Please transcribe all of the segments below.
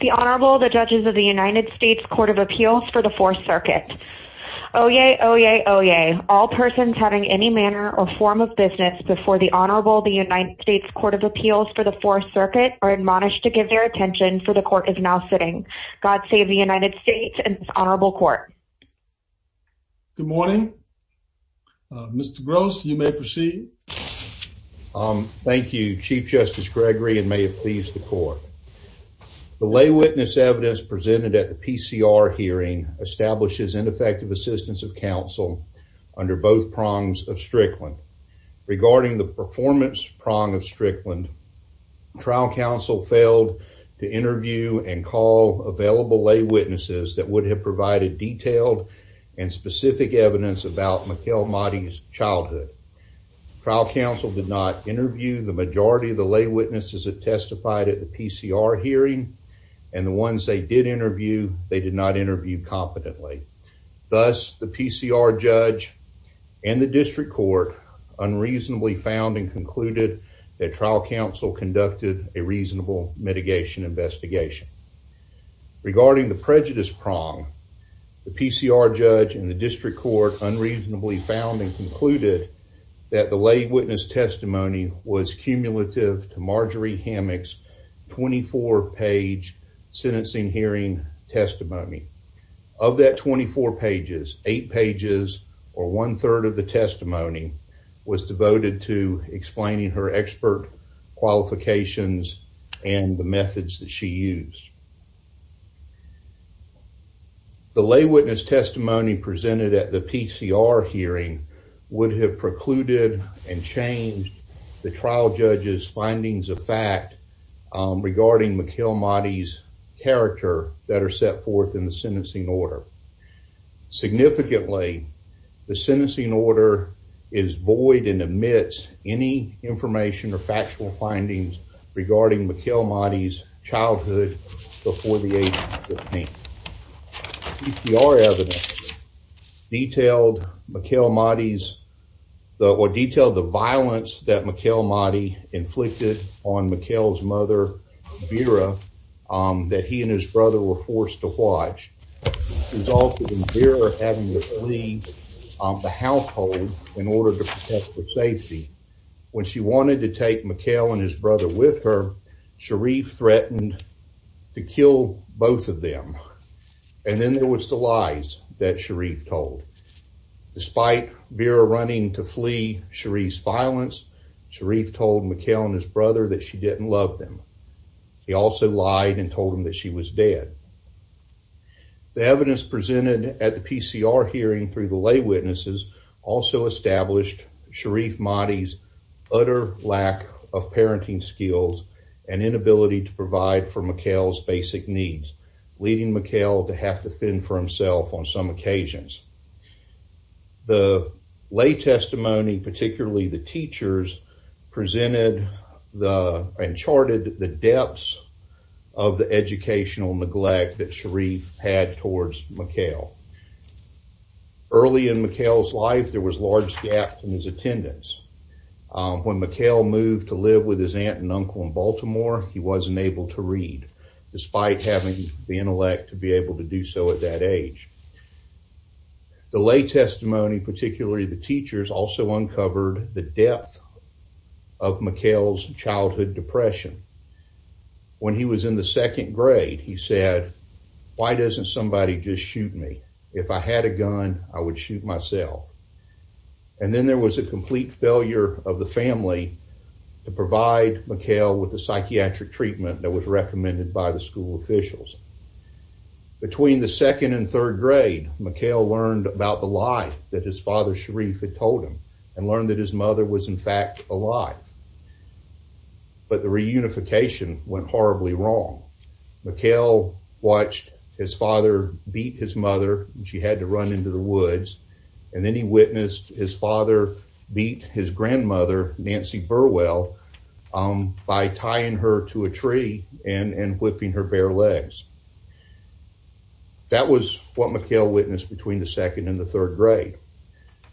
The Honorable, the Judges of the United States Court of Appeals for the Fourth Circuit. Oyez, oyez, oyez. All persons having any manner or form of business before the Honorable, the United States Court of Appeals for the Fourth Circuit are admonished to give their attention, for the Court is now sitting. God save the United States and this Honorable Court. Good morning, Mr. Gross, you may proceed. Thank you, Chief Justice Gregory, and may it please the Court. The lay witness evidence presented at the PCR hearing establishes ineffective assistance of counsel under both prongs of Strickland. Regarding the performance prong of Strickland, trial counsel failed to interview and call available lay witnesses that would have provided detailed and specific evidence about Mikal Mahdi's childhood. Trial counsel did not interview the majority of the lay witnesses that testified at the PCR hearing, and the ones they did interview, they did not interview competently. Thus, the PCR judge and the district court unreasonably found and concluded that trial counsel conducted a reasonable mitigation investigation. Regarding the prejudice prong, the PCR judge and the district court unreasonably found and concluded that the lay witness testimony was cumulative to Marjorie Hammock's 24-page sentencing hearing testimony. Of that 24 pages, 8 pages, or one-third of the testimony, was devoted to explaining her expert qualifications and the methods that she used. The lay witness testimony presented at the PCR hearing would have precluded and changed the trial judge's findings of fact regarding Mikal Mahdi's character that are set forth in the sentencing order. Significantly, the sentencing order is void and omits any information or factual findings regarding Mikal Mahdi's childhood before the age of 15. PCR evidence detailed Mikal Mahdi's, or detailed the violence that Mikal Mahdi inflicted on Mikal's mother, Vera, that he and his brother were forced to watch, resulting in Vera having to flee the household in order to protect her safety. When she wanted to take Mikal and his brother with her, Sharif threatened to kill both of them. Then, there was the lies that Sharif told. Despite Vera running to flee Sharif's violence, Sharif told Mikal and his brother that she didn't love them. He also lied and told them that she was dead. The evidence presented at the PCR hearing through the lay witnesses also established Sharif Mahdi's utter lack of parenting skills and inability to provide for Mikal's basic needs, leading Mikal to have to fend for himself on some occasions. The lay testimony, particularly the teachers, presented and charted the depths of the educational neglect that Sharif had towards Mikal. Early in Mikal's life, there was a large gap in his attendance. When Mikal moved to live with his aunt and uncle in Baltimore, he wasn't able to read despite having the intellect to be able to do so at that age. The lay testimony, particularly the teachers, also uncovered the depth of Mikal's childhood depression. When he was in the second grade, he said, why doesn't somebody just shoot me? If I had a gun, I would shoot myself. And then there was a complete failure of the family to provide Mikal with a psychiatric treatment that was recommended by the school officials. Between the second and third grade, Mikal learned about the lie that his father Sharif had told him and learned that his mother was, in fact, alive. But the reunification went horribly wrong. Mikal watched his father beat his mother, and she had to run into the woods, and then he witnessed his father beat his grandmother, Nancy Burwell, by tying her to a tree and whipping her bare legs. That was what Mikal witnessed between the second and the third grade.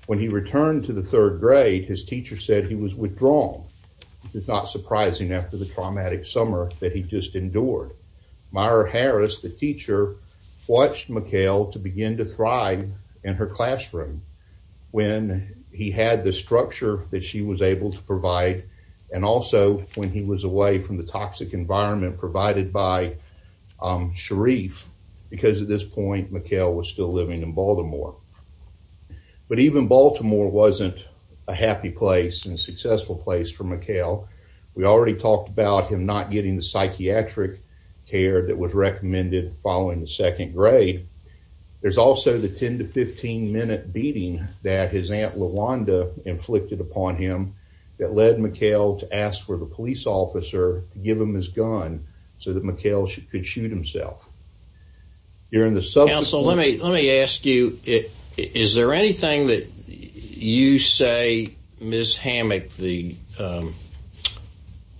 When he returned to the third grade, his teacher said he was withdrawn, which is not surprising after the traumatic summer that he just endured. Myra Harris, the teacher, watched Mikal to begin to thrive in her classroom when he had the structure that she was able to provide, and also when he was away from the toxic environment provided by Sharif, because at this point, Mikal was still living in Baltimore. But even Baltimore wasn't a happy place and a successful place for Mikal. We already talked about him not getting the psychiatric care that was recommended following the second grade. There's also the 10- to 15-minute beating that his aunt Lawanda inflicted upon him that led Mikal to ask for the police officer to give him his gun so that Mikal could shoot himself. You're in the subsequent-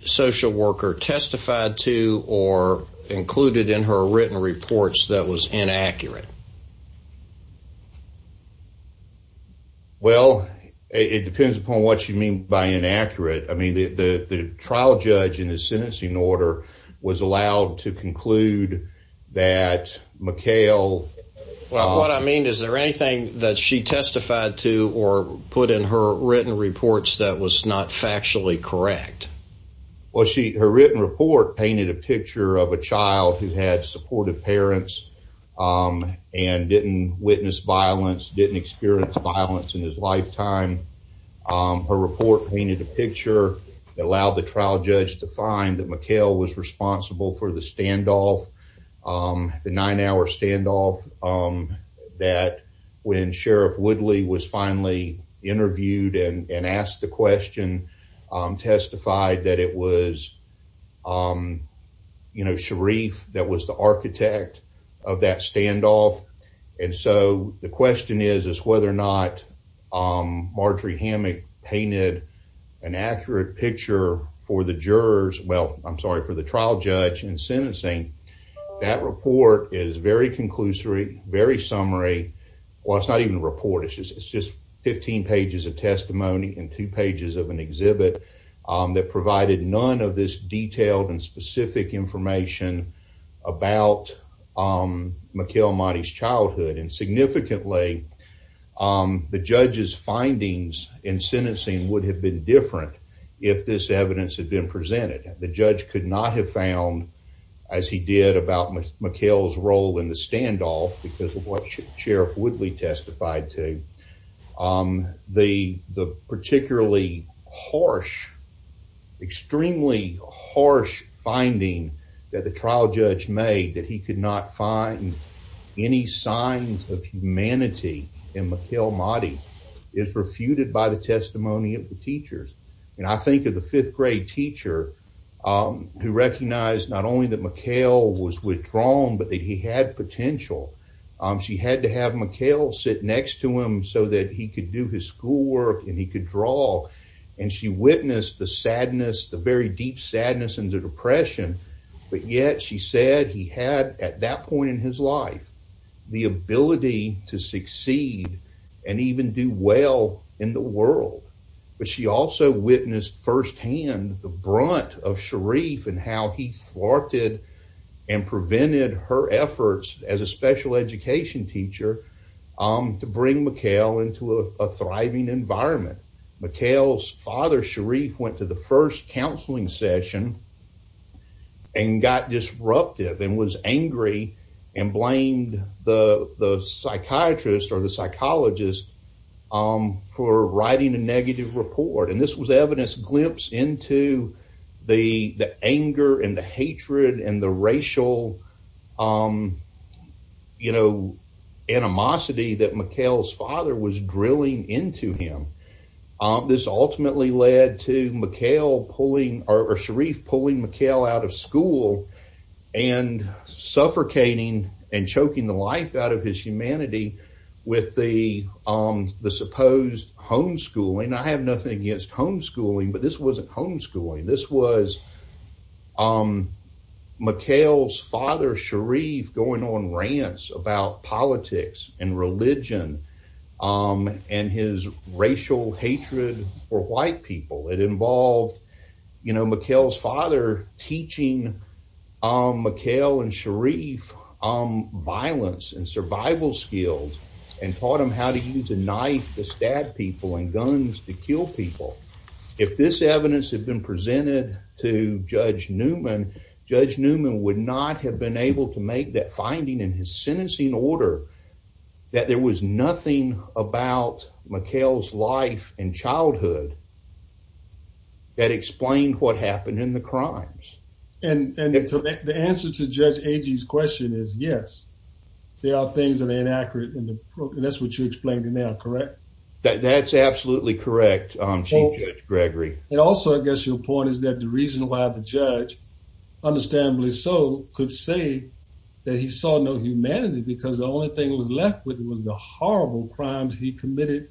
Social worker testified to or included in her written reports that was inaccurate? Well, it depends upon what you mean by inaccurate. I mean, the trial judge in his sentencing order was allowed to conclude that Mikal- Well, what I mean, is there anything that she testified to or put in her written reports that was not factually correct? Well, her written report painted a picture of a child who had supportive parents and didn't witness violence, didn't experience violence in his lifetime. Her report painted a picture that allowed the trial judge to find that Mikal was responsible for the standoff, the nine-hour standoff, that when Sharif Woodley was finally interviewed and asked the question, testified that it was Sharif that was the architect of that standoff. And so, the question is, is whether or not Marjorie Hammack painted an accurate picture for the jurors, well, I'm sorry, for the trial judge in sentencing. That report is very conclusory, very summary, well, it's not even a report, it's just 15 pages of testimony and two pages of an exhibit that provided none of this detailed and specific information about Mikal Mahdi's childhood, and significantly, the judge's findings in sentencing would have been different if this evidence had been presented. The judge could not have found, as he did, about Mikal's role in the standoff because of what Sharif Woodley testified to, the particularly harsh, extremely harsh finding that the trial judge made, that he could not find any signs of humanity in Mikal Mahdi is refuted by the testimony of the teachers. And I think of the fifth grade teacher who recognized not only that Mikal was withdrawn, but that he had potential. She had to have Mikal sit next to him so that he could do his schoolwork and he could draw, and she witnessed the sadness, the very deep sadness and the depression, but yet she said he had, at that point in his life, the ability to succeed and even do well in the world. She also witnessed firsthand the brunt of Sharif and how he thwarted and prevented her efforts as a special education teacher to bring Mikal into a thriving environment. Mikal's father, Sharif, went to the first counseling session and got disruptive and was angry and blamed the psychiatrist or the psychologist for writing a negative report. And this was evidence, a glimpse into the anger and the hatred and the racial animosity that Mikal's father was drilling into him. This ultimately led to Sharif pulling Mikal out of school and suffocating and choking the life out of his humanity with the supposed homeschooling. I have nothing against homeschooling, but this wasn't homeschooling. This was Mikal's father, Sharif, going on rants about politics and religion and his racial hatred for white people. It involved Mikal's father teaching Mikal and Sharif violence and survival skills and taught them how to use a knife to stab people and guns to kill people. If this evidence had been presented to Judge Newman, Judge Newman would not have been able to make that finding in his sentencing order that there was nothing about Mikal's life and childhood that explained what happened in the crimes. And the answer to Judge Agee's question is yes, there are things that are inaccurate and that's what you're explaining now, correct? That's absolutely correct, Chief Judge Gregory. And also, I guess your point is that the reason why the judge, understandably so, could say that he saw no humanity because the only thing that was left with him was the horrible crimes he committed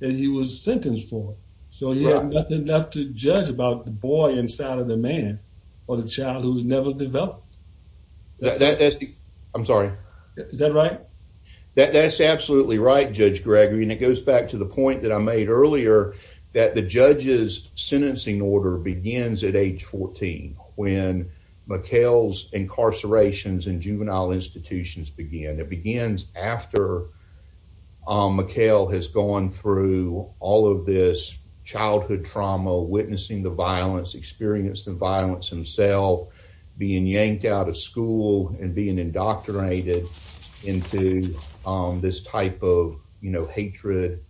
that he was sentenced for. So, he had nothing left to judge about the boy inside of the man or the child who was never developed. That's, I'm sorry. Is that right? That's absolutely right, Judge Gregory. And it goes back to the point that I made earlier that the judge's sentencing order begins at age 14 when Mikal's incarcerations in juvenile institutions begin. It begins after Mikal has gone through all of this childhood trauma, witnessing the violence, experienced the violence himself, being yanked out of school and being indoctrinated into this type of, you know, hatred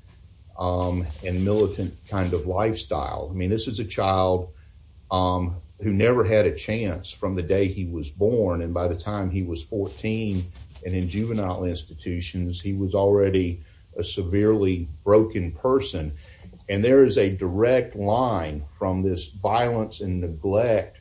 and militant kind of lifestyle. I mean, this is a child who never had a chance from the day he was born. And by the time he was 14 and in juvenile institutions, he was already a severely broken person. And there is a direct line from this violence and neglect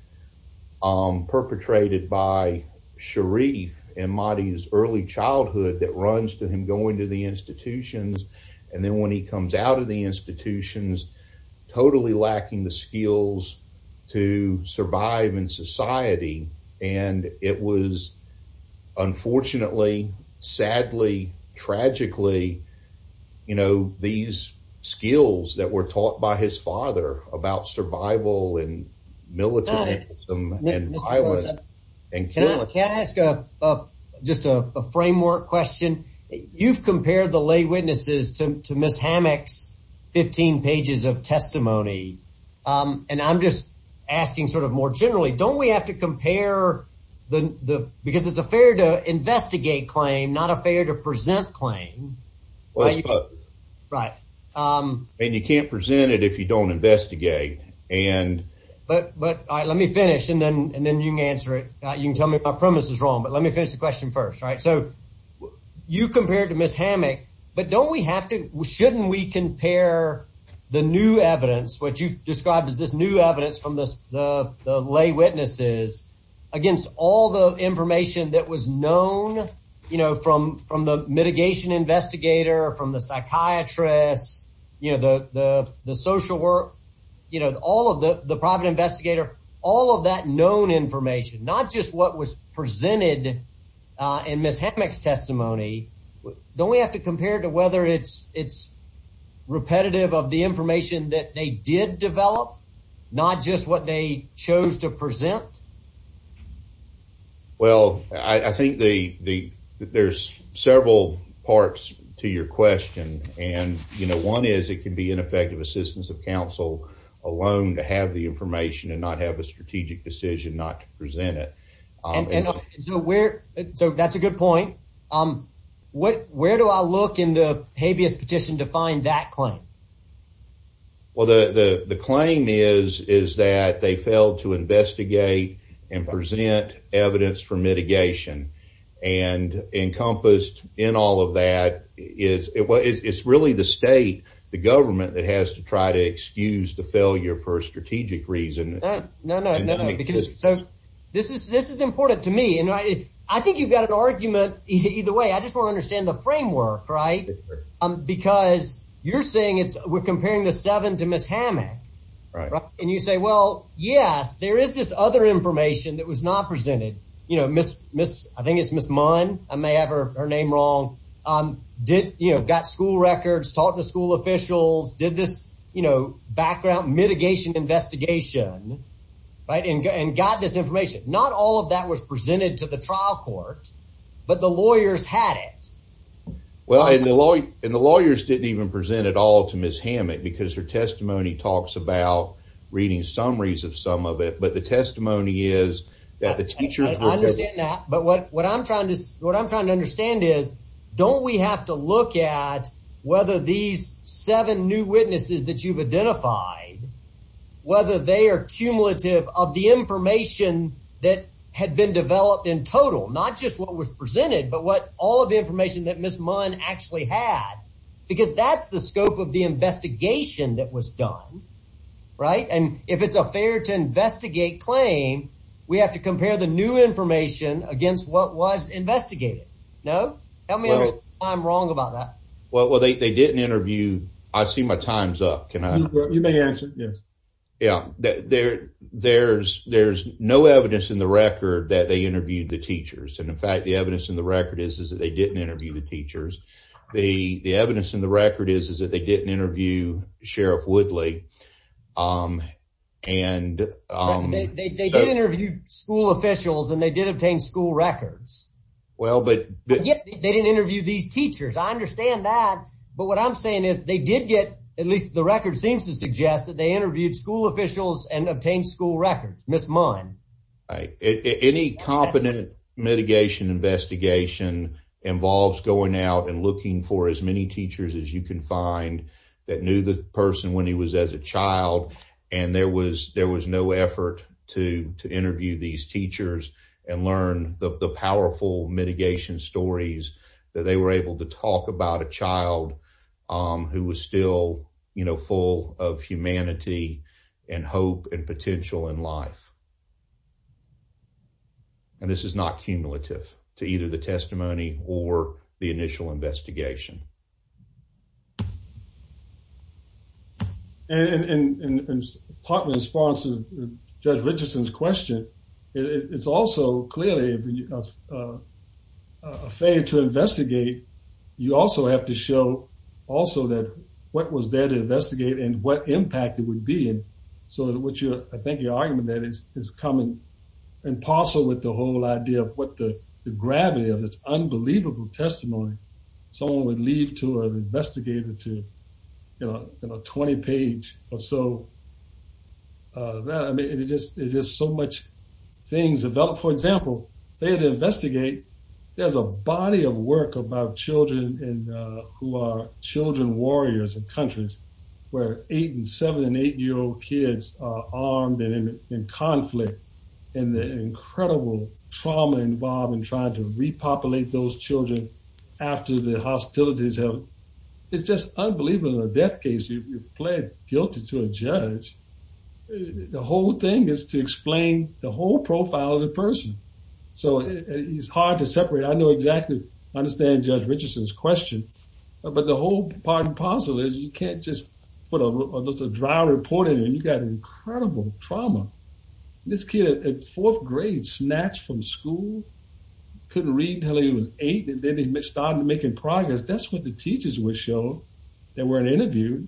perpetrated by Sharif and Mahdi's early childhood that runs to him going to the institutions. And then when he comes out of the institutions, totally lacking the skills to survive in society. And it was unfortunately, sadly, tragically, you know, these skills that were taught by his father about survival and militant and violence. And can I ask just a framework question? You've compared the lay witnesses to Ms. Hammack's 15 pages of testimony. And I'm just asking sort of more generally, don't we have to compare the— because it's a fair to investigate claim, not a fair to present claim. Well, it's both. Right. And you can't present it if you don't investigate and— But let me finish and then you can answer it. You can tell me if my premise is wrong, but let me finish the question first, right? So you compared to Ms. Hammack, but don't we have to— shouldn't we compare the new evidence, what you described as this new evidence from the lay witnesses against all the information that was known, you know, from the mitigation investigator, from the psychiatrist, you know, the social work, you know, all of the private investigator, all of that known information, not just what was presented in Ms. Hammack's testimony. Don't we have to compare to whether it's repetitive of the information that they did develop, not just what they chose to present? Well, I think there's several parts to your question. And, you know, one is it can be ineffective assistance of counsel alone to have the information and not have a strategic decision not to present it. And so where—so that's a good point. What—where do I look in the habeas petition to find that claim? Well, the claim is that they failed to investigate and present evidence for mitigation. And encompassed in all of that is it's really the state, the government that has to try to excuse the failure for a strategic reason. No, no, no, no, because—so this is—this is important to me. And I think you've got an argument either way. I just want to understand the framework, right? Because you're saying it's—we're comparing the seven to Ms. Hammack. Right. And you say, well, yes, there is this other information that was not presented. You know, Ms.—I think it's Ms. Munn. I may have her name wrong. Did—you know, got school records, taught the school officials, did this, you know, background mitigation investigation, right, and got this information. Not all of that was presented to the trial court, but the lawyers had it. Well, and the lawyers didn't even present it all to Ms. Hammack because her testimony talks about reading summaries of some of it. But the testimony is that the teachers were— I understand that. But what I'm trying to—what I'm trying to understand is, don't we have to look at whether these seven new witnesses that you've identified, whether they are cumulative of the information that had been developed in total, not just what was presented, but what all of the information that Ms. Munn actually had, because that's the scope of the investigation that was done, right? And if it's a fair to investigate claim, we have to compare the new information against what was investigated, no? Help me understand why I'm wrong about that. Well, they didn't interview—I see my time's up. Can I— You may answer, yes. Yeah, there's no evidence in the record that they interviewed the teachers. And, in fact, the evidence in the record is that they didn't interview the teachers. The evidence in the record is that they didn't interview Sheriff Woodley. And— They did interview school officials, and they did obtain school records. Well, but— But yet, they didn't interview these teachers. I understand that. But what I'm saying is, they did get—at least the record seems to suggest that they interviewed school officials and obtained school records, Ms. Munn. Right. Any competent mitigation investigation involves going out and looking for as many teachers as you can find that knew the person when he was as a child, and there was no effort to interview these teachers and learn the powerful mitigation stories that they were able to talk about a child who was still, you know, full of humanity and hope and potential in life. And this is not cumulative to either the testimony or the initial investigation. And part of the response to Judge Richardson's question, it's also clearly a fade to investigate. You also have to show also that what was there to investigate and what impact it would be. So what you're—I think your argument there is coming in parcel with the whole idea of what the gravity of this unbelievable testimony. Someone would leave to an investigator to, you know, a 20-page or so. I mean, it's just so much things developed. For example, they had to investigate. There's a body of work about children who are children warriors in countries where eight- and seven- and eight-year-old kids are armed and in conflict and the incredible trauma involved in trying to repopulate those children after the hostilities. It's just unbelievable. In a death case, you plead guilty to a judge. The whole thing is to explain the whole profile of the person. So it's hard to separate. I know exactly—I understand Judge Richardson's question, but the whole part and parcel is you can't just put a drought report in it. You've got incredible trauma. This kid in fourth grade snatched from school, couldn't read until he was eight, and then he started making progress. That's what the teachers would show. They weren't interviewed.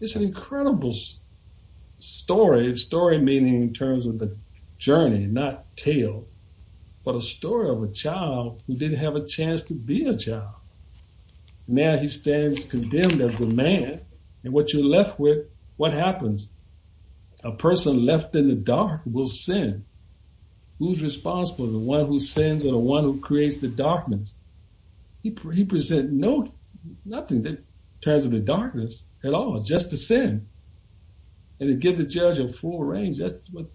It's an incredible story, story meaning in terms of the journey, not tale, but a story of a child who didn't have a chance to be a child. Now he stands condemned as a man, and what you're left with, what happens? A person left in the dark will sin. Who's responsible? The one who sins or the one who creates the darkness? He presents nothing in terms of the darkness at all, just the sin. And to give the judge a full range, that's what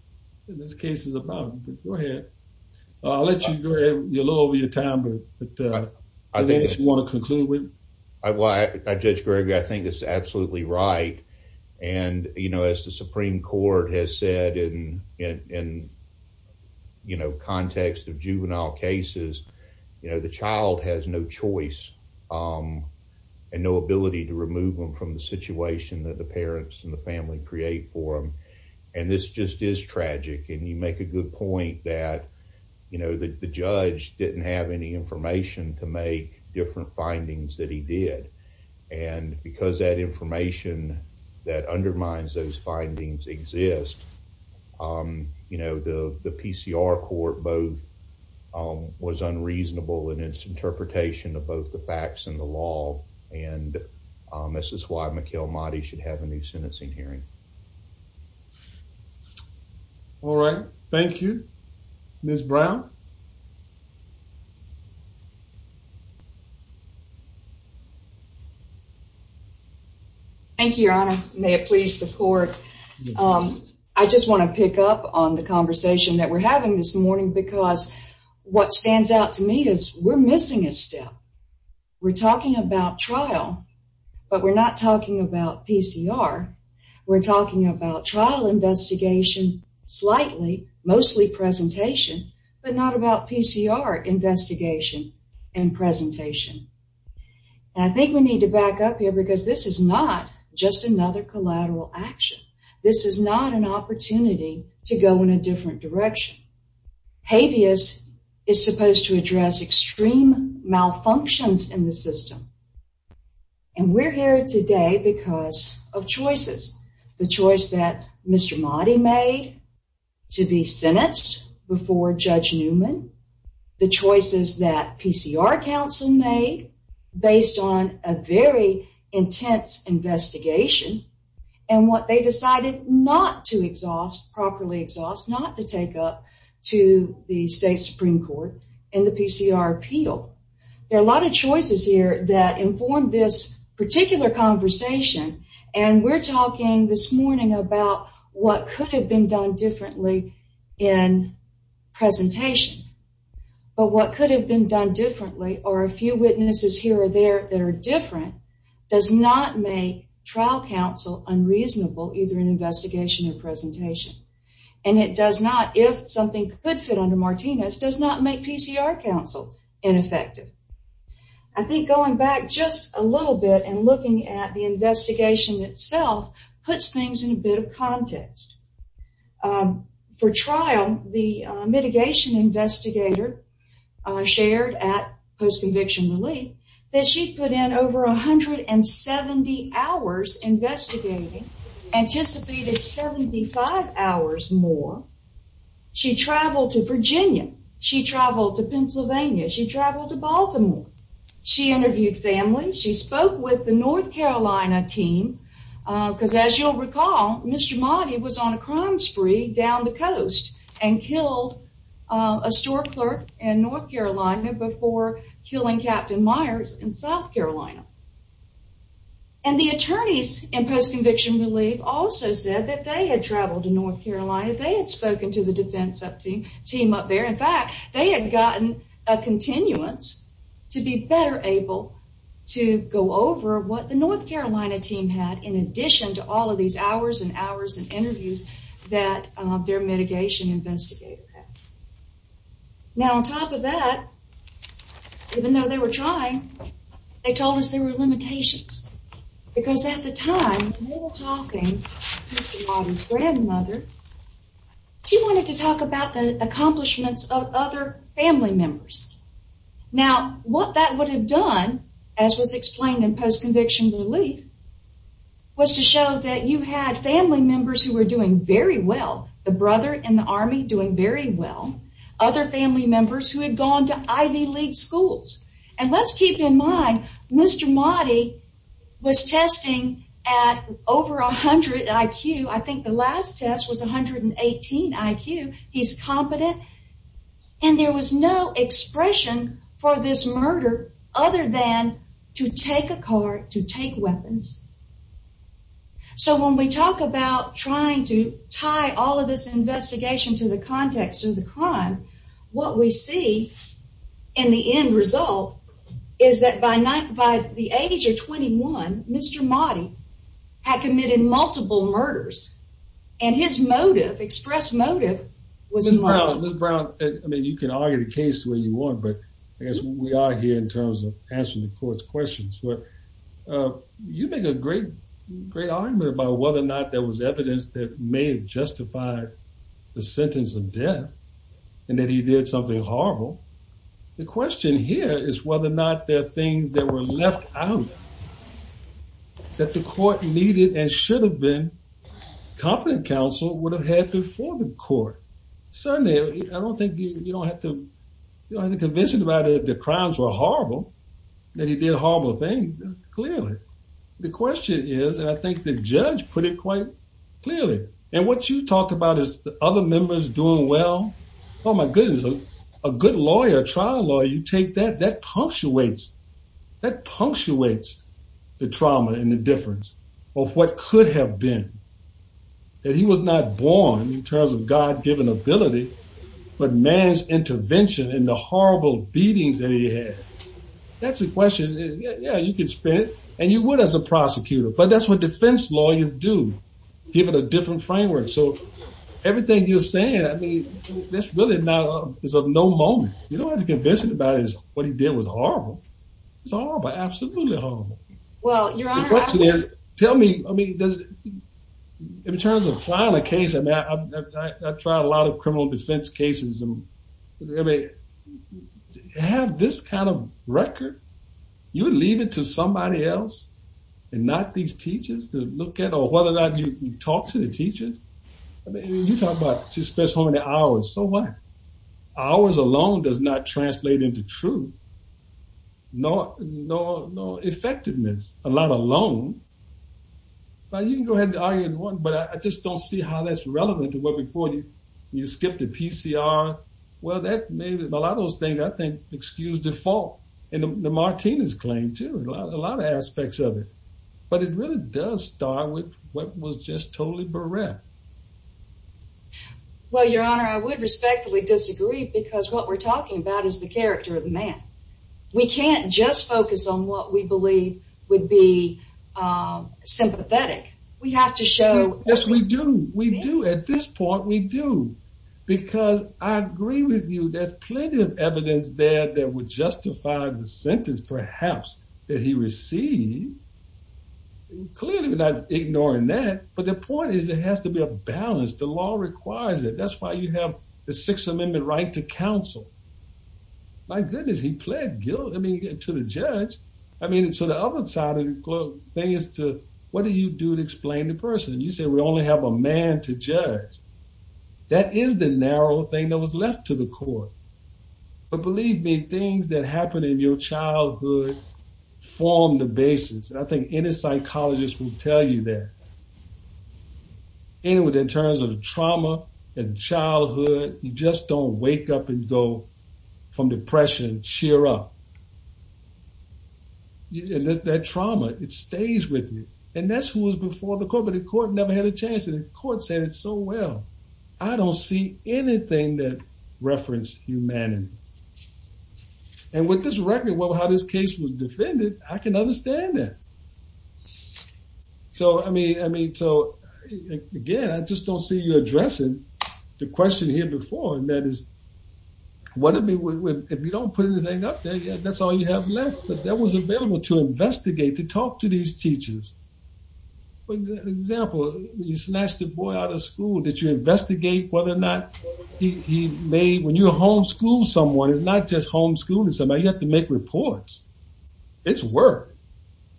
this case is about. Go ahead. I'll let you go ahead. You're a little over your time, but anything you want to conclude with? Judge Gregory, I think it's absolutely right. And as the Supreme Court has said in context of juvenile cases, the child has no choice and no ability to remove them from the situation that the parents and the family create for them. And this just is tragic. And you make a good point that the judge didn't have any information to make different findings that he did. And because that information that undermines those findings exist, you know, the PCR court both was unreasonable in its interpretation of both the facts and the law. And this is why Mikhail Mahdi should have a new sentencing hearing. All right. Thank you, Ms. Brown. Thank you, Your Honor. May it please the court. I just want to pick up on the conversation that we're having this morning because what stands out to me is we're missing a step. We're talking about trial, but we're not talking about PCR. We're talking about trial investigation, slightly, mostly presentation, but not about PCR investigation. And I think we need to back up here because this is not just another collateral action. This is not an opportunity to go in a different direction. Habeas is supposed to address extreme malfunctions in the system. And we're here today because of choices, the choice that Mr. Mahdi made to be sentenced before Judge Newman, the choices that PCR counsel made based on a very intense investigation, and what they decided not to exhaust, properly exhaust, not to take up to the state Supreme Court in the PCR appeal. There are a lot of choices here that inform this particular conversation, and we're talking this morning about what could have been done differently in presentation. But what could have been done differently, or a few witnesses here or there that are different, does not make trial counsel unreasonable either in investigation or presentation. And it does not, if something could fit under Martinez, does not make PCR counsel ineffective. I think going back just a little bit and looking at the investigation itself puts things in a bit of context. For trial, the mitigation investigator shared at post-conviction relief that she put in over 170 hours investigating, anticipated 75 hours more. She traveled to Virginia. She traveled to Pennsylvania. She traveled to Baltimore. She interviewed families. She spoke with the North Carolina team because, as you'll recall, Mr. Mahdi was on a crime spree down the coast and killed a store clerk in North Carolina before killing Captain Myers in South Carolina. And the attorneys in post-conviction relief also said that they had traveled to North Carolina. They had spoken to the defense team up there. In fact, they had gotten a continuance to be better able to go over what the North Carolina team had in addition to all of these hours and hours and interviews that their mitigation investigator had. Now, on top of that, even though they were trying, they told us there were limitations because at the time, they were talking to Mr. Mahdi's grandmother. He wanted to talk about the accomplishments of other family members. Now, what that would have done, as was explained in post-conviction relief, was to show that you had family members who were doing very well, the brother in the Army doing very well, other family members who had gone to Ivy League schools. And let's keep in mind, Mr. Mahdi was testing at over 100 IQ. I think the last test was 118 IQ. He's competent. And there was no expression for this murder other than to take a car, to take weapons. So when we talk about trying to tie all of this investigation to the context of the crime, what we see in the end result is that by the age of 21, Mr. Mahdi had committed multiple murders. And his motive, express motive, was murder. Ms. Brown, I mean, you can argue the case the way you want, but I guess we are here in terms of answering the court's questions. You make a great argument about whether or not there was evidence that may have justified the sentence of death and that he did something horrible. The question here is whether or not there are things that were left out that the court needed and should have been, competent counsel would have had before the court. Certainly, I don't think you don't have to be convinced about it, that the crimes were horrible, that he did horrible things, clearly. The question is, and I think the judge put it quite clearly, and what you talk about is the other members doing well. Oh, my goodness. A good lawyer, a trial lawyer, you take that, that punctuates, that punctuates the trauma and the difference of what could have been, that he was not born in terms of God-given ability, but man's intervention in the horrible beatings that he had. That's the question. Yeah, you can spin it, and you would as a prosecutor, but that's what defense lawyers do, give it a different framework. So everything you're saying, I mean, that's really not, is of no moment. You don't have to convince him about it, what he did was horrible. It's horrible, absolutely horrible. Well, Your Honor, I think- The question is, tell me, I mean, in terms of filing a case, I mean, I've tried a lot of criminal defense cases, and I mean, to have this kind of record, you would leave it to somebody else and not these teachers to look at, you know, whether or not you talk to the teachers. I mean, you talk about she spent so many hours, so what? Hours alone does not translate into truth. No effectiveness, a lot alone. Now, you can go ahead and argue in one, but I just don't see how that's relevant to what before you skipped the PCR. Well, that made a lot of those things, I think, excuse default, and the Martinez claim, too, a lot of aspects of it. But it really does start with what was just totally bereft. Well, Your Honor, I would respectfully disagree, because what we're talking about is the character of the man. We can't just focus on what we believe would be sympathetic. We have to show- Yes, we do. We do. At this point, we do, because I agree with you, there's plenty of evidence there that would justify the sentence, perhaps, that he received. Clearly, we're not ignoring that, but the point is, it has to be a balance. The law requires it. That's why you have the Sixth Amendment right to counsel. My goodness, he pled guilty to the judge. I mean, so the other side of the thing is to, what do you do to explain the person? You say we only have a man to judge. That is the narrow thing that was left to the court. But believe me, things that happen in your childhood form the basis. I think any psychologist will tell you that. Anyway, in terms of trauma and childhood, you just don't wake up and go from depression and cheer up. That trauma, it stays with you. And that's who was before the court, but the court never had a chance. The court said it so well. I don't see anything that referenced humanity. And with this record, how this case was defended, I can understand that. So, I mean, again, I just don't see you addressing the question here before, and that is, if you don't put anything up there, that's all you have left. But that was available to investigate, to talk to these teachers. For example, you snatched a boy out of school. Did you investigate whether or not he may, when you homeschool someone, it's not just homeschooling somebody. You have to make reports. It's work.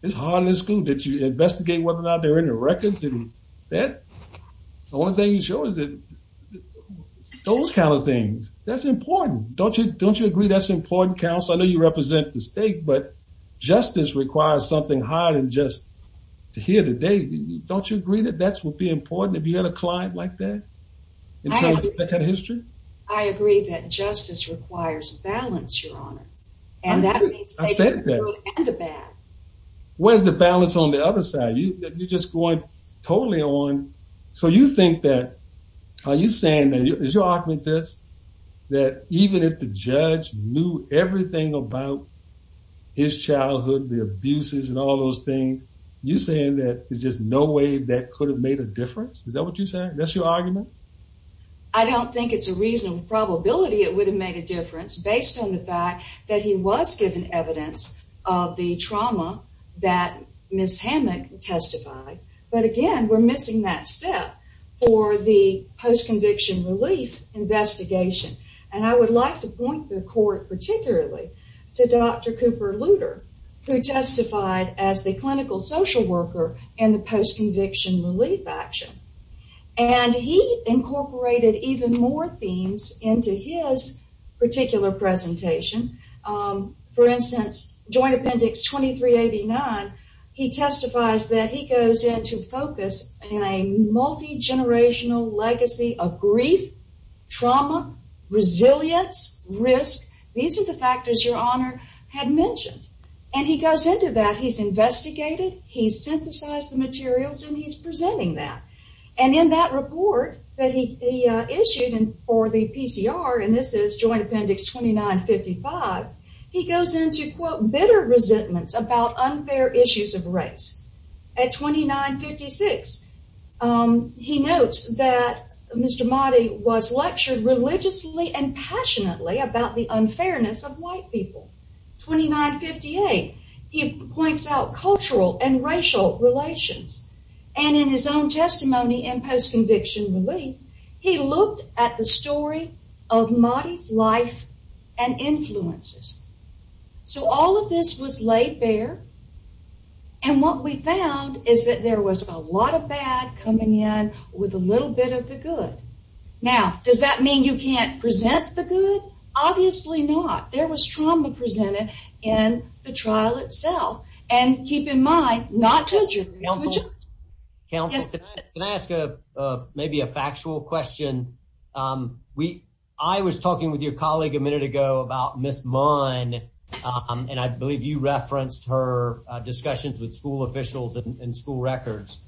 It's hard in this school. Did you investigate whether or not there were any records? The only thing you show is those kind of things. That's important. Don't you agree that's important, counsel? I know you represent the state, but justice requires something higher than just to hear the day. Don't you agree that that would be important, if you had a client like that? I agree. In terms of that kind of history? I agree that justice requires balance, Your Honor, and that means taking the good and the bad. Where's the balance on the other side? You're just going totally on. So you think that, are you saying, is your argument this, that even if the judge knew everything about his childhood, the abuses and all those things, you're saying that there's just no way that could have made a difference? Is that what you're saying? That's your argument? I don't think it's a reasonable probability it would have made a difference, based on the fact that he was given evidence of the trauma that Ms. Hammack testified, but, again, we're missing that step for the post-conviction relief investigation, and I would like to point the court, particularly, to Dr. Cooper Luter, who testified as the clinical social worker in the post-conviction relief action, and he incorporated even more themes into his particular presentation. For instance, Joint Appendix 2389, he testifies that he goes into focus in a multi-generational legacy of grief, trauma, resilience, risk. These are the factors Your Honor had mentioned, and he goes into that. He's investigated, he's synthesized the materials, and he's presenting that, and in that report that he issued for the PCR, and this is Joint Appendix 2955, he goes into, quote, bitter resentments about unfair issues of race. At 2956, he notes that Mr. Motti was lectured religiously and passionately about the unfairness of white people. 2958, he points out cultural and racial relations, and in his own testimony in post-conviction relief, he looked at the story of Motti's life and influences. So all of this was laid bare, and what we found is that there was a lot of bad coming in with a little bit of the good. Now, does that mean you can't present the good? Obviously not. There was trauma presented in the trial itself, and keep in mind not to judge. Counsel, can I ask maybe a factual question? I was talking with your colleague a minute ago about Ms. Munn, and I believe you referenced her discussions with school officials and school records.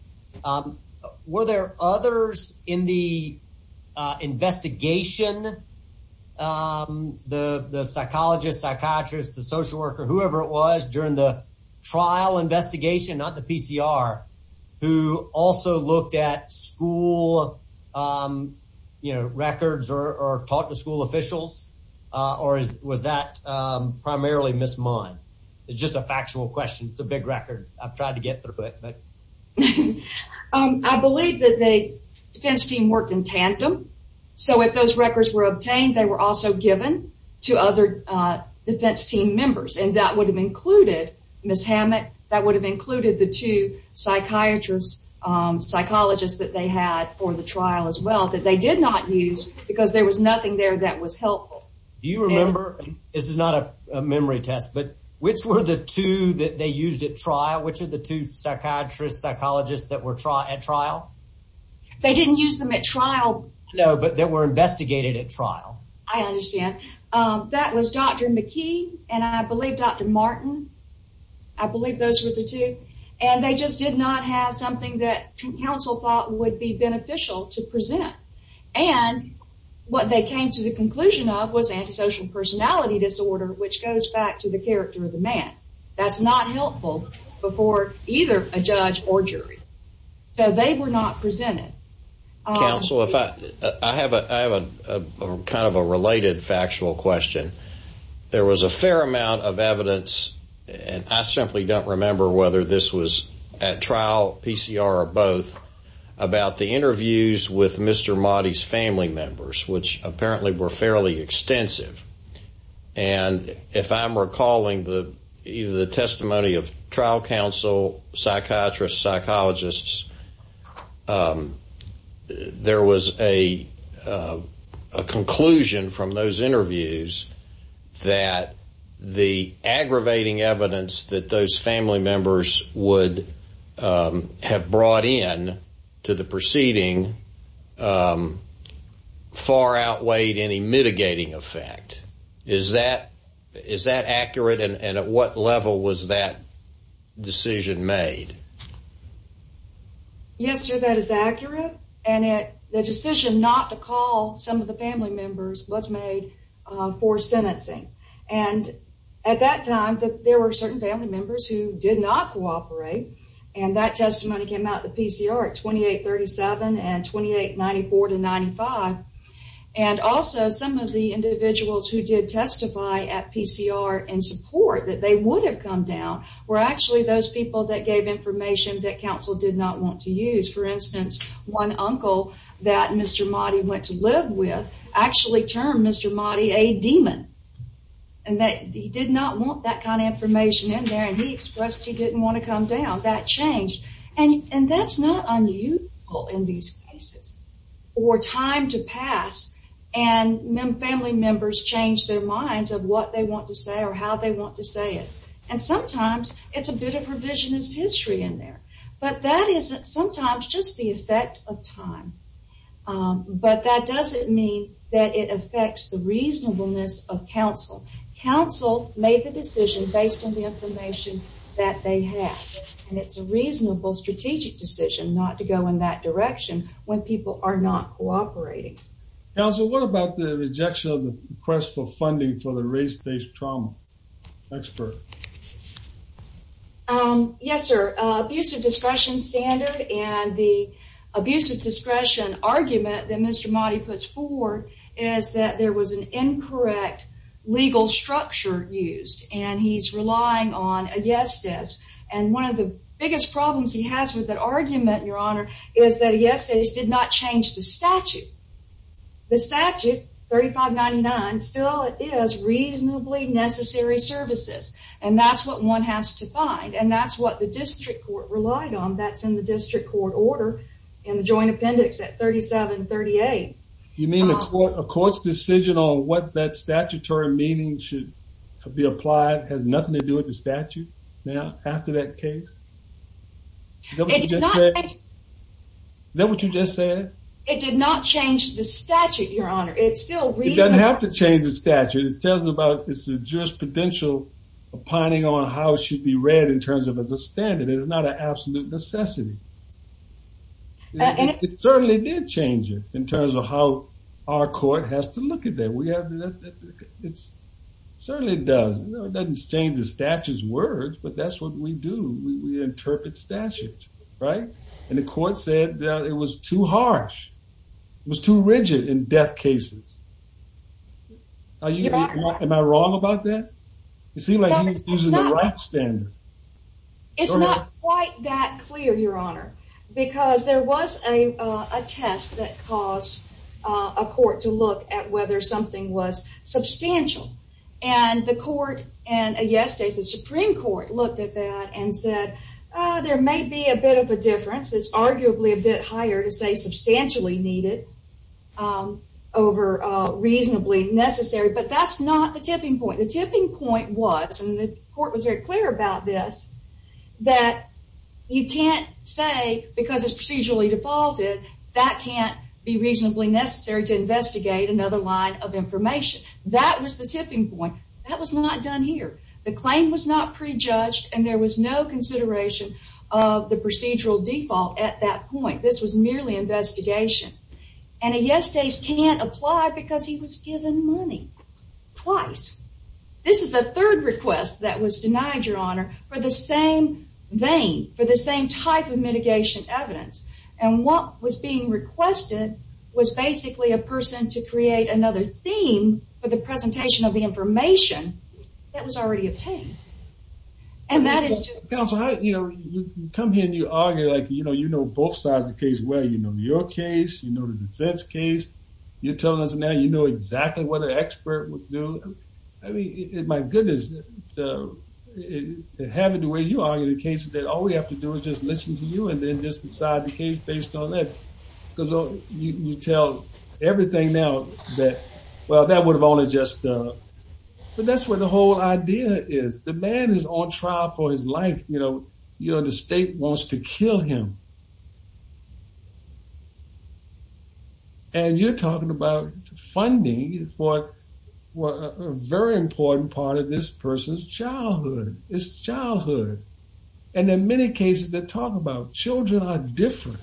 Were there others in the investigation, the psychologist, psychiatrist, the social worker, whoever it was during the trial investigation, not the PCR, who also looked at school records or talked to school officials, or was that primarily Ms. Munn? It's just a factual question. It's a big record. I've tried to get through it. I believe that the defense team worked in tandem, so if those records were obtained, I think they were also given to other defense team members, and that would have included Ms. Hammett, that would have included the two psychiatrists, psychologists that they had for the trial as well that they did not use because there was nothing there that was helpful. Do you remember, this is not a memory test, but which were the two that they used at trial? Which of the two psychiatrists, psychologists that were at trial? They didn't use them at trial. No, but they were investigated at trial. I understand. That was Dr. McKee and I believe Dr. Martin. I believe those were the two, and they just did not have something that counsel thought would be beneficial to present, and what they came to the conclusion of was antisocial personality disorder, which goes back to the character of the man. That's not helpful before either a judge or jury, so they were not presented. Counsel, I have kind of a related factual question. There was a fair amount of evidence, and I simply don't remember whether this was at trial, PCR, or both about the interviews with Mr. Motti's family members, which apparently were fairly extensive, and if I'm recalling either the testimony of trial counsel, psychiatrists, psychologists, there was a conclusion from those interviews that the aggravating evidence that those family members would have brought in to the proceeding far outweighed any mitigating effect. Is that accurate, and at what level was that decision made? Yes, sir, that is accurate, and the decision not to call some of the family members was made for sentencing, and at that time, there were certain family members who did not cooperate, and that testimony came out in the PCR at 2837 and 2894 to 95, and also some of the individuals who did testify at PCR in support that they would have come down were actually those people that gave information that counsel did not want to use. For instance, one uncle that Mr. Motti went to live with actually termed Mr. Motti a demon, and that he did not want that kind of information in there, and he expressed he didn't want to come down. That changed, and that's not unusual in these cases, or time to pass, and family members change their minds of what they want to say or how they want to say it, and sometimes it's a bit of revisionist history in there, but that is sometimes just the effect of time, but that doesn't mean that it affects the reasonableness of counsel. Counsel made the decision based on the information that they had, and it's a reasonable strategic decision not to go in that direction when people are not cooperating. Counsel, what about the rejection of the request for funding for the race-based trauma expert? Yes, sir, abusive discretion standard, and the abusive discretion argument that Mr. Motti puts forward is that there was an incorrect legal structure used, and he's relying on a yes desk, and one of the biggest problems he has with that argument, Your Honor, is that a yes desk did not change the statute. The statute, 3599, still is reasonably necessary services, and that's what one has to find, and that's what the district court relied on. That's in the district court order in the joint appendix at 3738. You mean a court's decision on what that statutory meaning should be applied has nothing to do with the statute now after that case? Is that what you just said? It did not change the statute, Your Honor. It's still reasonable. It doesn't have to change the statute. It tells about it's a jurisprudential opining on how it should be read in terms of as a standard. It is not an absolute necessity. It certainly did change it in terms of how our court has to look at that. It certainly does. It doesn't change the statute's words, but that's what we do. We interpret statutes, right? And the court said that it was too harsh. It was too rigid in death cases. Am I wrong about that? It seems like you're using the right standard. It's not quite that clear, Your Honor, because there was a test that caused a court to look at whether something was substantial, and the Supreme Court looked at that and said, there may be a bit of a difference. It's arguably a bit higher to say substantially needed over reasonably necessary, but that's not the tipping point. The tipping point was, and the court was very clear about this, that you can't say because it's procedurally defaulted that can't be reasonably necessary to investigate another line of information. That was the tipping point. That was not done here. The claim was not prejudged, and there was no consideration of the procedural default at that point. This was merely investigation. And a yes case can't apply because he was given money twice. This is the third request that was denied, Your Honor, for the same vein, for the same type of mitigation evidence. And what was being requested was basically a person to create another theme for the presentation of the information that was already obtained. And that is to- You know, you come here and you argue like, you know, you know both sides of the case well. You know your case. You know the defense case. You're telling us now you know exactly what an expert would do. I mean, my goodness, having the way you argue the cases, all we have to do is just listen to you and then just decide the case based on that. Because you tell everything now that, well, that would have only just- But that's where the whole idea is. The man is on trial for his life. You know, the state wants to kill him. And you're talking about funding for a very important part of this person's childhood. It's childhood. And in many cases they talk about children are different.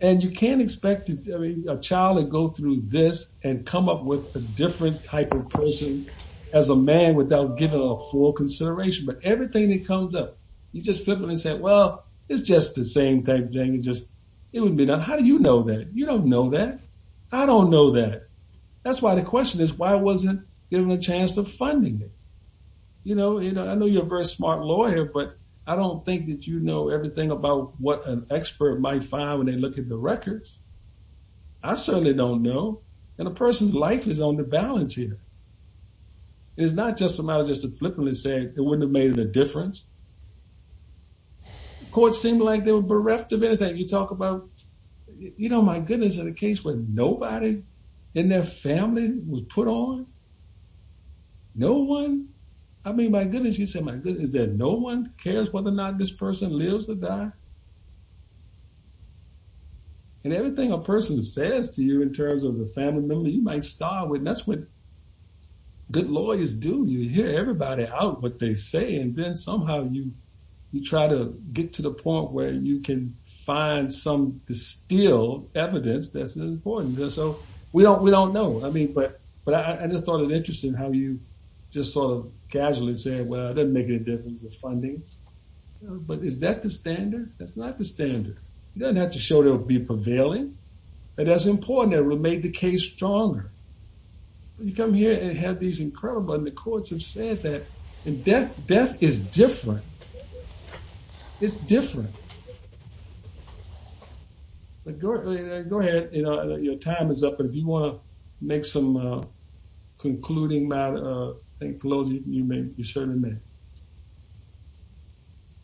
And you can't expect a child to go through this and come up with a different type of person as a man without giving a full consideration. But everything that comes up, you just flip it and say, well, it's just the same type of thing. It would be done. How do you know that? You don't know that. I don't know that. That's why the question is why wasn't there a chance of funding it? You know, I know you're a very smart lawyer, but I don't think that you know everything about what an expert might find when they look at the records. I certainly don't know. And a person's life is on the balance here. It's not just a matter of just flipping it and saying it wouldn't have made a difference. Courts seem like they were bereft of anything. You talk about, you know, my goodness, in a case where nobody in their family was put on? No one? I mean, my goodness, you say, my goodness, that no one cares whether or not this person lives or dies? And everything a person says to you in terms of the family member, you might start with, and that's what good lawyers do. You hear everybody out what they say, and then somehow you, you try to get to the point where you can find some distilled evidence that's important. So we don't, we don't know. I mean, but I just thought it interesting how you just sort of casually say, well, it doesn't make any difference with funding. But is that the standard? That's not the standard. It doesn't have to show to be prevailing. And that's important. It will make the case stronger. When you come here and have these incredible, and the courts have said that, and death is different. It's different. But go ahead. Your time is up. But if you want to make some concluding, closing, you may, you certainly may.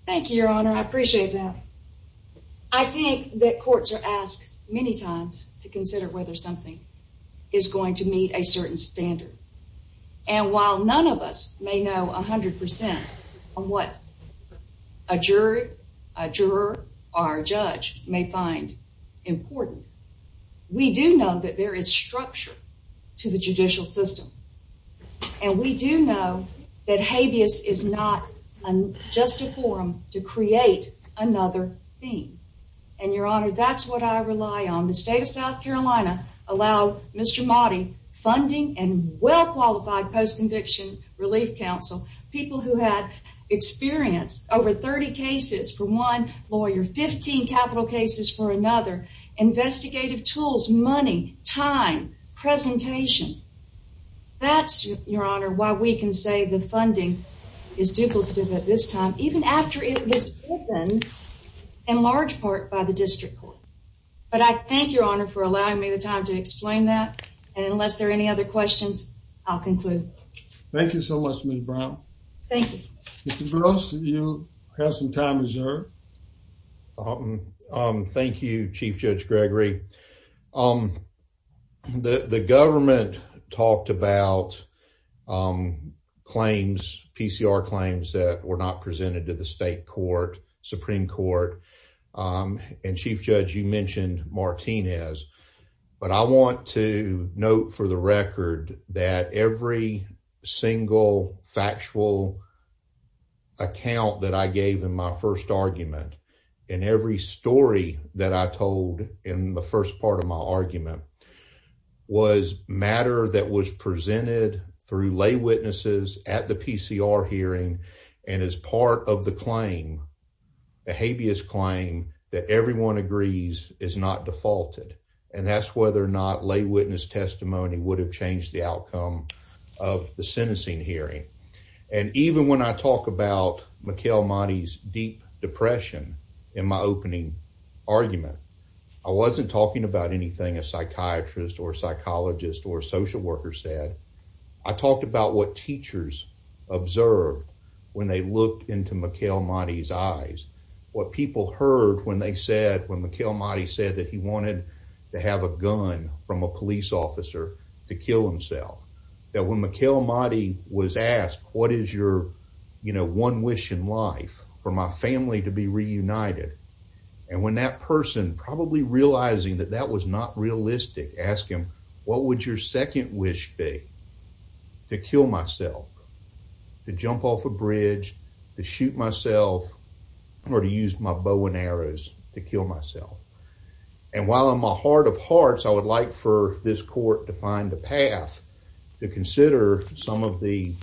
Thank you, Your Honor. I appreciate that. I think that courts are asked many times to consider whether something is going to meet a certain standard. And while none of us may know a hundred percent on what a jury, a juror, or a judge may find important. We do know that there is structure to the judicial system. And we do know that habeas is not just a forum to create another theme. And, Your Honor, that's what I rely on. The state of South Carolina allowed Mr. Motti funding and well-qualified post-conviction relief counsel, people who had experience, over 30 cases for one lawyer, 15 capital cases for another, investigative tools, money, time, presentation. That's, Your Honor, why we can say the funding is duplicative at this time, even after it was given in large part by the district court. But I thank Your Honor for allowing me the time to explain that. And unless there are any other questions, I'll conclude. Thank you so much, Ms. Brown. Thank you. Mr. Gross, you have some time reserved. Thank you, Chief Judge Gregory. The government talked about claims, PCR claims that were not presented to the state court, Supreme Court. And, Chief Judge, you mentioned Martinez. But I want to note for the record that every single factual account that I told in the first part of my argument was matter that was presented through lay witnesses at the PCR hearing and is part of the claim, the habeas claim that everyone agrees is not defaulted. And that's whether or not lay witness testimony would have changed the outcome of the sentencing hearing. And even when I talk about Mikhail Mati's deep depression in my opening argument, I wasn't talking about anything a psychiatrist or psychologist or social worker said. I talked about what teachers observed when they looked into Mikhail Mati's eyes, what people heard when they said, when Mikhail Mati said that he wanted to have a gun from a police officer to kill himself, that when Mikhail Mati was asked, what is your one wish in life? For my family to be reunited. And when that person, probably realizing that that was not realistic, asked him, what would your second wish be? To kill myself, to jump off a bridge, to shoot myself, or to use my bow and arrows to kill myself. And while I'm a heart of hearts, I would like for this court to find a path to consider some of the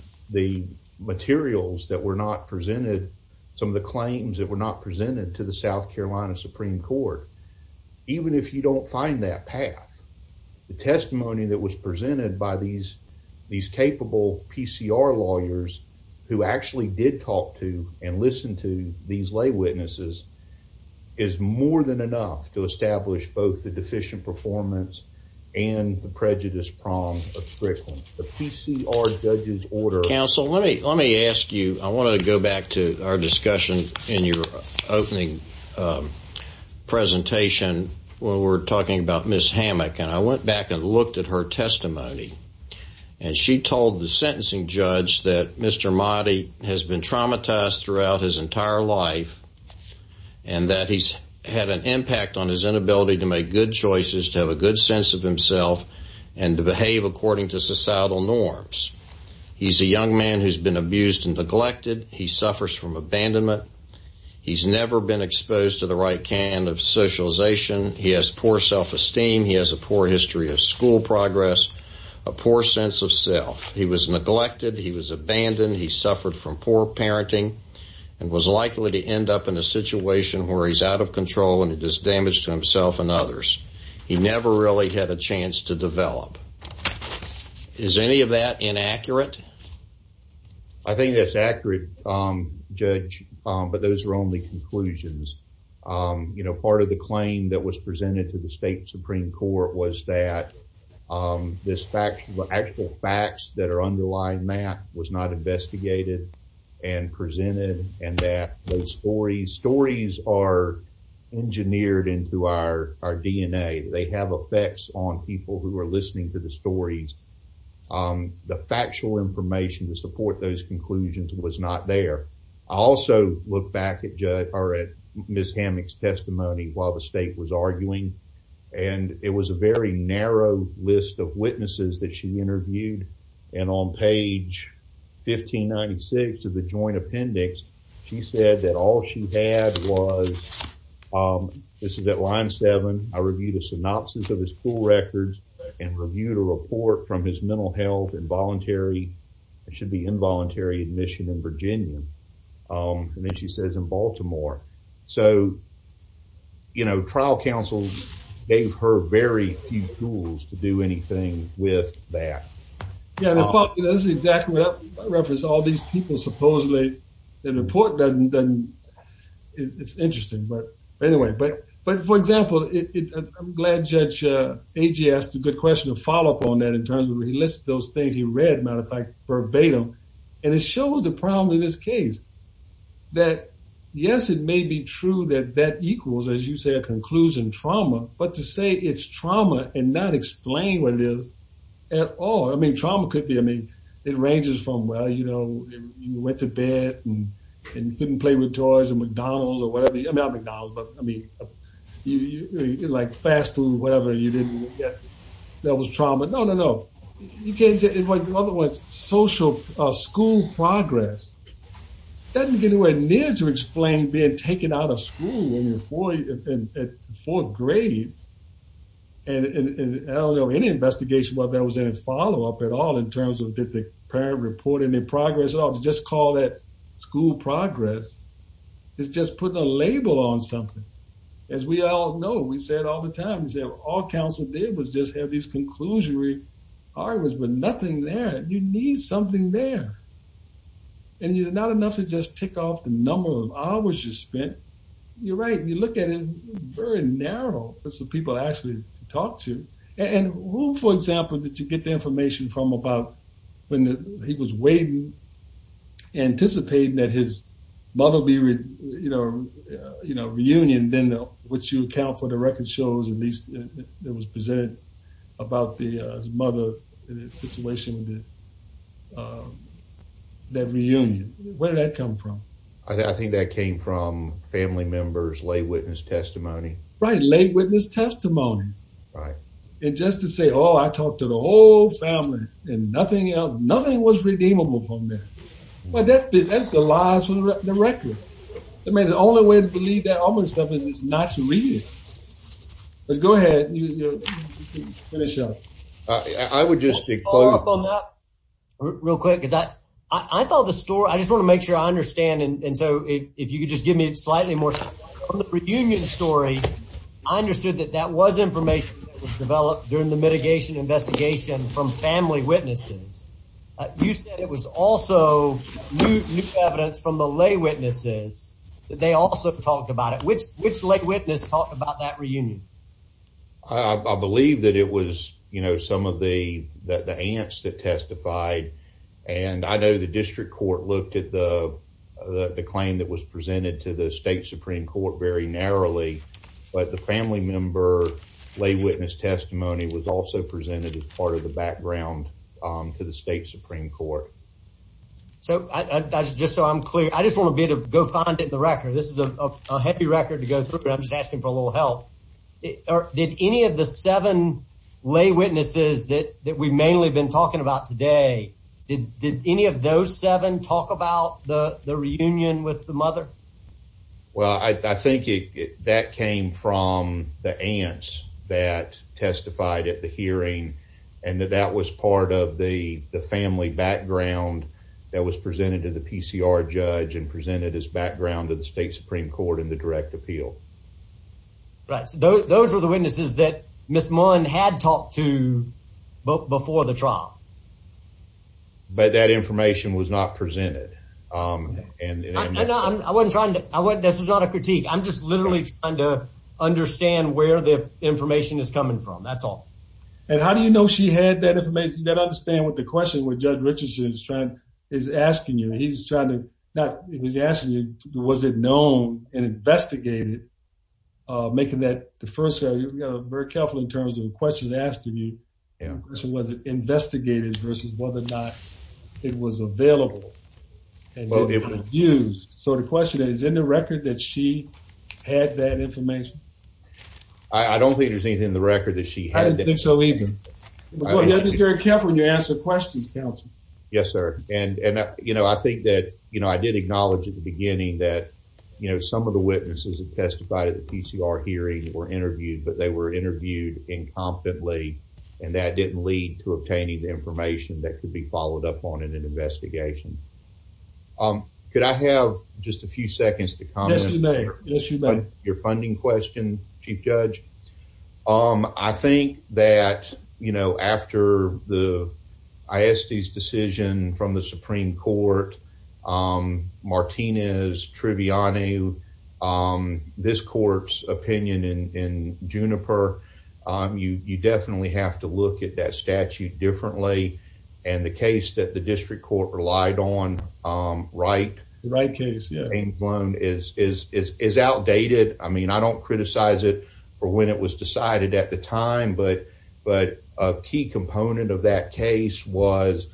materials that were not presented, some of the claims that were not presented to the South Carolina Supreme Court. Even if you don't find that path, the testimony that was presented by these capable PCR lawyers who actually did talk to and listen to these lay witnesses is more than enough to establish both the deficient performance and the prejudice prong of Strickland. The PCR judge's order. Counsel, let me ask you, I want to go back to our discussion in your opening presentation when we were talking about Ms. Hammack. And I went back and looked at her testimony. And she told the sentencing judge that Mr. Mati has been traumatized throughout his entire life and that he's had an impact on his inability to make good choices, to have a good sense of himself, and to behave according to societal norms. He's a young man who's been abused and neglected. He suffers from abandonment. He's never been exposed to the right kind of socialization. He has poor self-esteem. He has a poor history of school progress, a poor sense of self. He was neglected. He was abandoned. He suffered from poor parenting and was likely to end up in a situation where he's out of control and it does damage to himself and others. He never really had a chance to develop. Is any of that inaccurate? I think that's accurate, Judge, but those are only conclusions. You know, part of the claim that was presented to the state Supreme Court was that the actual facts that are underlying that was not investigated and presented and that those stories are engineered into our DNA. They have effects on people who are listening to the stories. The factual information to support those conclusions was not there. I also look back at Ms. Hammock's testimony while the state was arguing, and it was a very narrow list of witnesses that she interviewed. And on page 1596 of the joint appendix, she said that all she had was, this is at line seven, I reviewed a synopsis of his school records and reviewed a report from his mental health in voluntary, it should be involuntary admission in Virginia. And then she says in Baltimore. So, you know, trial counsel gave her very few tools to do anything with that. Yeah, this is exactly what I referenced. All these people supposedly, the report doesn't, it's interesting. But anyway, but for example, I'm glad Judge Agee asked a good question to follow up on that in terms of where he lists those things he read, matter of fact, verbatim. And it shows the problem in this case. That yes, it may be true that that equals, as you say, a conclusion trauma, but to say it's trauma and not explain what it is at all. I mean, trauma could be, I mean, it ranges from, well, you know, you went to bed and couldn't play with toys at McDonald's or whatever. I mean, not McDonald's, but I mean, like fast food or whatever, you didn't, that was trauma. No, no, no. You can't say, in other words, social school progress. That didn't get anywhere near to explain being taken out of school when you're in fourth grade. And I don't know any investigation about that was in its follow-up at all in terms of did the parent report any progress at all. To just call that school progress is just putting a label on something. As we all know, we say it all the time, all council did was just have these conclusionary arguments, but nothing there. You need something there. And it's not enough to just tick off the number of hours you spent. You're right. You look at it very narrow. That's what people actually talk to. And who, for example, did you get the information from about when he was waiting, anticipating that his mother would be, you know, reunion, then what you account for the record shows, at least that was presented about his mother, the situation with that reunion. Where did that come from? I think that came from family members' lay witness testimony. Right, lay witness testimony. Right. And just to say, oh, I talked to the whole family and nothing else, nothing was redeemable from that. That's the lies from the record. I mean, the only way to believe that almost stuff is not to read it. But go ahead. I would just pick up on that real quick. I thought the store, I just want to make sure I understand. And so if you could just give me slightly more from the reunion story, I understood that that was information developed during the mitigation investigation from family witnesses. You said it was also new evidence from the lay witnesses. They also talked about it. Which lay witness talked about that reunion? I believe that it was, you know, some of the aunts that testified. And I know the district court looked at the claim that was presented to the state Supreme Court very narrowly. But the family member lay witness testimony was also presented as part of the background to the state Supreme Court. So just so I'm clear, I just want to be able to go find it in the record. This is a heavy record to go through, but I'm just asking for a little help. Did any of the seven lay witnesses that we've mainly been talking about today, did any of those seven talk about the reunion with the mother? Well, I think that came from the aunts that testified at the hearing. And that that was part of the family background that was presented to the PCR judge and presented as background to the state Supreme Court in the direct appeal. Right. So those were the witnesses that Ms. Munn had talked to before the trial. But that information was not presented. I wasn't trying to, this is not a critique. I'm just literally trying to understand where the information is coming from. That's all. And how do you know she had that information? You got to understand what the question with Judge Richardson is asking you. He's trying to, he was asking you, was it known and investigated? Making that the first, very careful in terms of the questions asked of you. Was it investigated versus whether or not it was available? And was it used? So the question is, is it in the record that she had that information? I don't think there's anything in the record that she had. I don't think so either. You have to be very careful when you're asking questions, counsel. Yes, sir. And I think that I did acknowledge at the beginning that some of the witnesses that testified at the PCR hearing were interviewed, but they were interviewed incompetently. And that didn't lead to obtaining the information that could be followed up on in an investigation. Yes, you may. Yes, you may. Your funding question, Chief Judge. I think that, you know, after the ISD's decision from the Supreme Court, Martinez, Triviano, this court's opinion in Juniper, you definitely have to look at that statute differently. And the case that the district court relied on, Wright. Wright case, yeah. I mean, I don't criticize it for when it was decided at the time, but a key component of that case was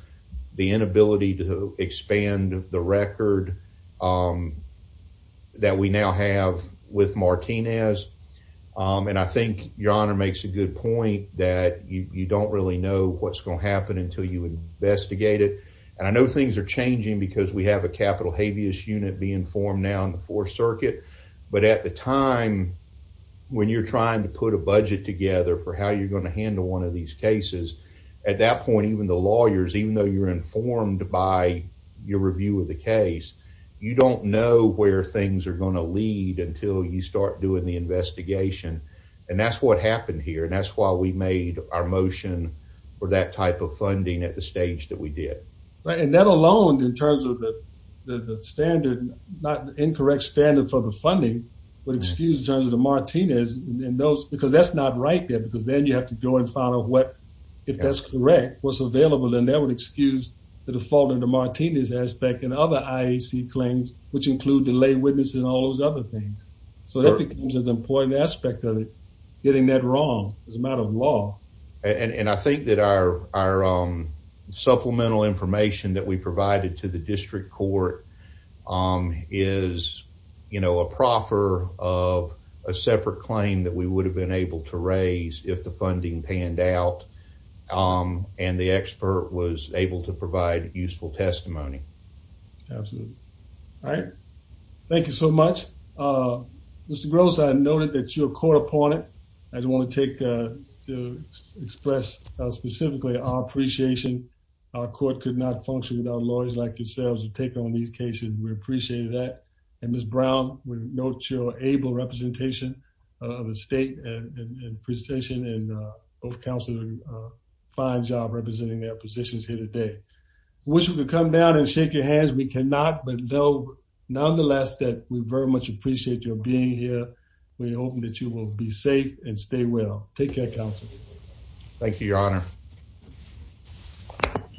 the inability to expand the record that we now have with Martinez. And I think your honor makes a good point that you don't really know what's going to happen until you investigate it. And I know things are changing because we have a capital habeas unit being formed now in the Fourth Circuit. But at the time, when you're trying to put a budget together for how you're going to handle one of these cases, at that point, even the lawyers, even though you're informed by your review of the case, you don't know where things are going to lead until you start doing the investigation. And that's what happened here. And that's why we made our motion for that type of funding at the stage that we did. Right. And that alone, in terms of the standard, not the incorrect standard for the funding, would excuse in terms of the Martinez and those, because that's not right there, because then you have to go and find out what, if that's correct, what's available. And that would excuse the default of the Martinez aspect and other IAC claims, which include the lay witness and all those other things. So that becomes an important aspect of it, getting that wrong. It's a matter of law. And I think that our supplemental information that we provided to the district court is, you know, a proffer of a separate claim that we would have been able to raise if the funding panned out and the expert was able to provide useful testimony. Absolutely. All right. Thank you so much, Mr. Gross. I noted that you're caught upon it. I just want to take, to express specifically our appreciation. Our court could not function without lawyers like yourselves to take on these cases. We appreciate that. And Ms. Brown, we note your able representation of the state and precision and both counselors, a fine job representing their positions here today. Wish we could come down and shake your hands. We cannot, but no, nonetheless that we very much appreciate your being here. We hope that you will be safe and stay well. Take care of council. Thank you, your honor.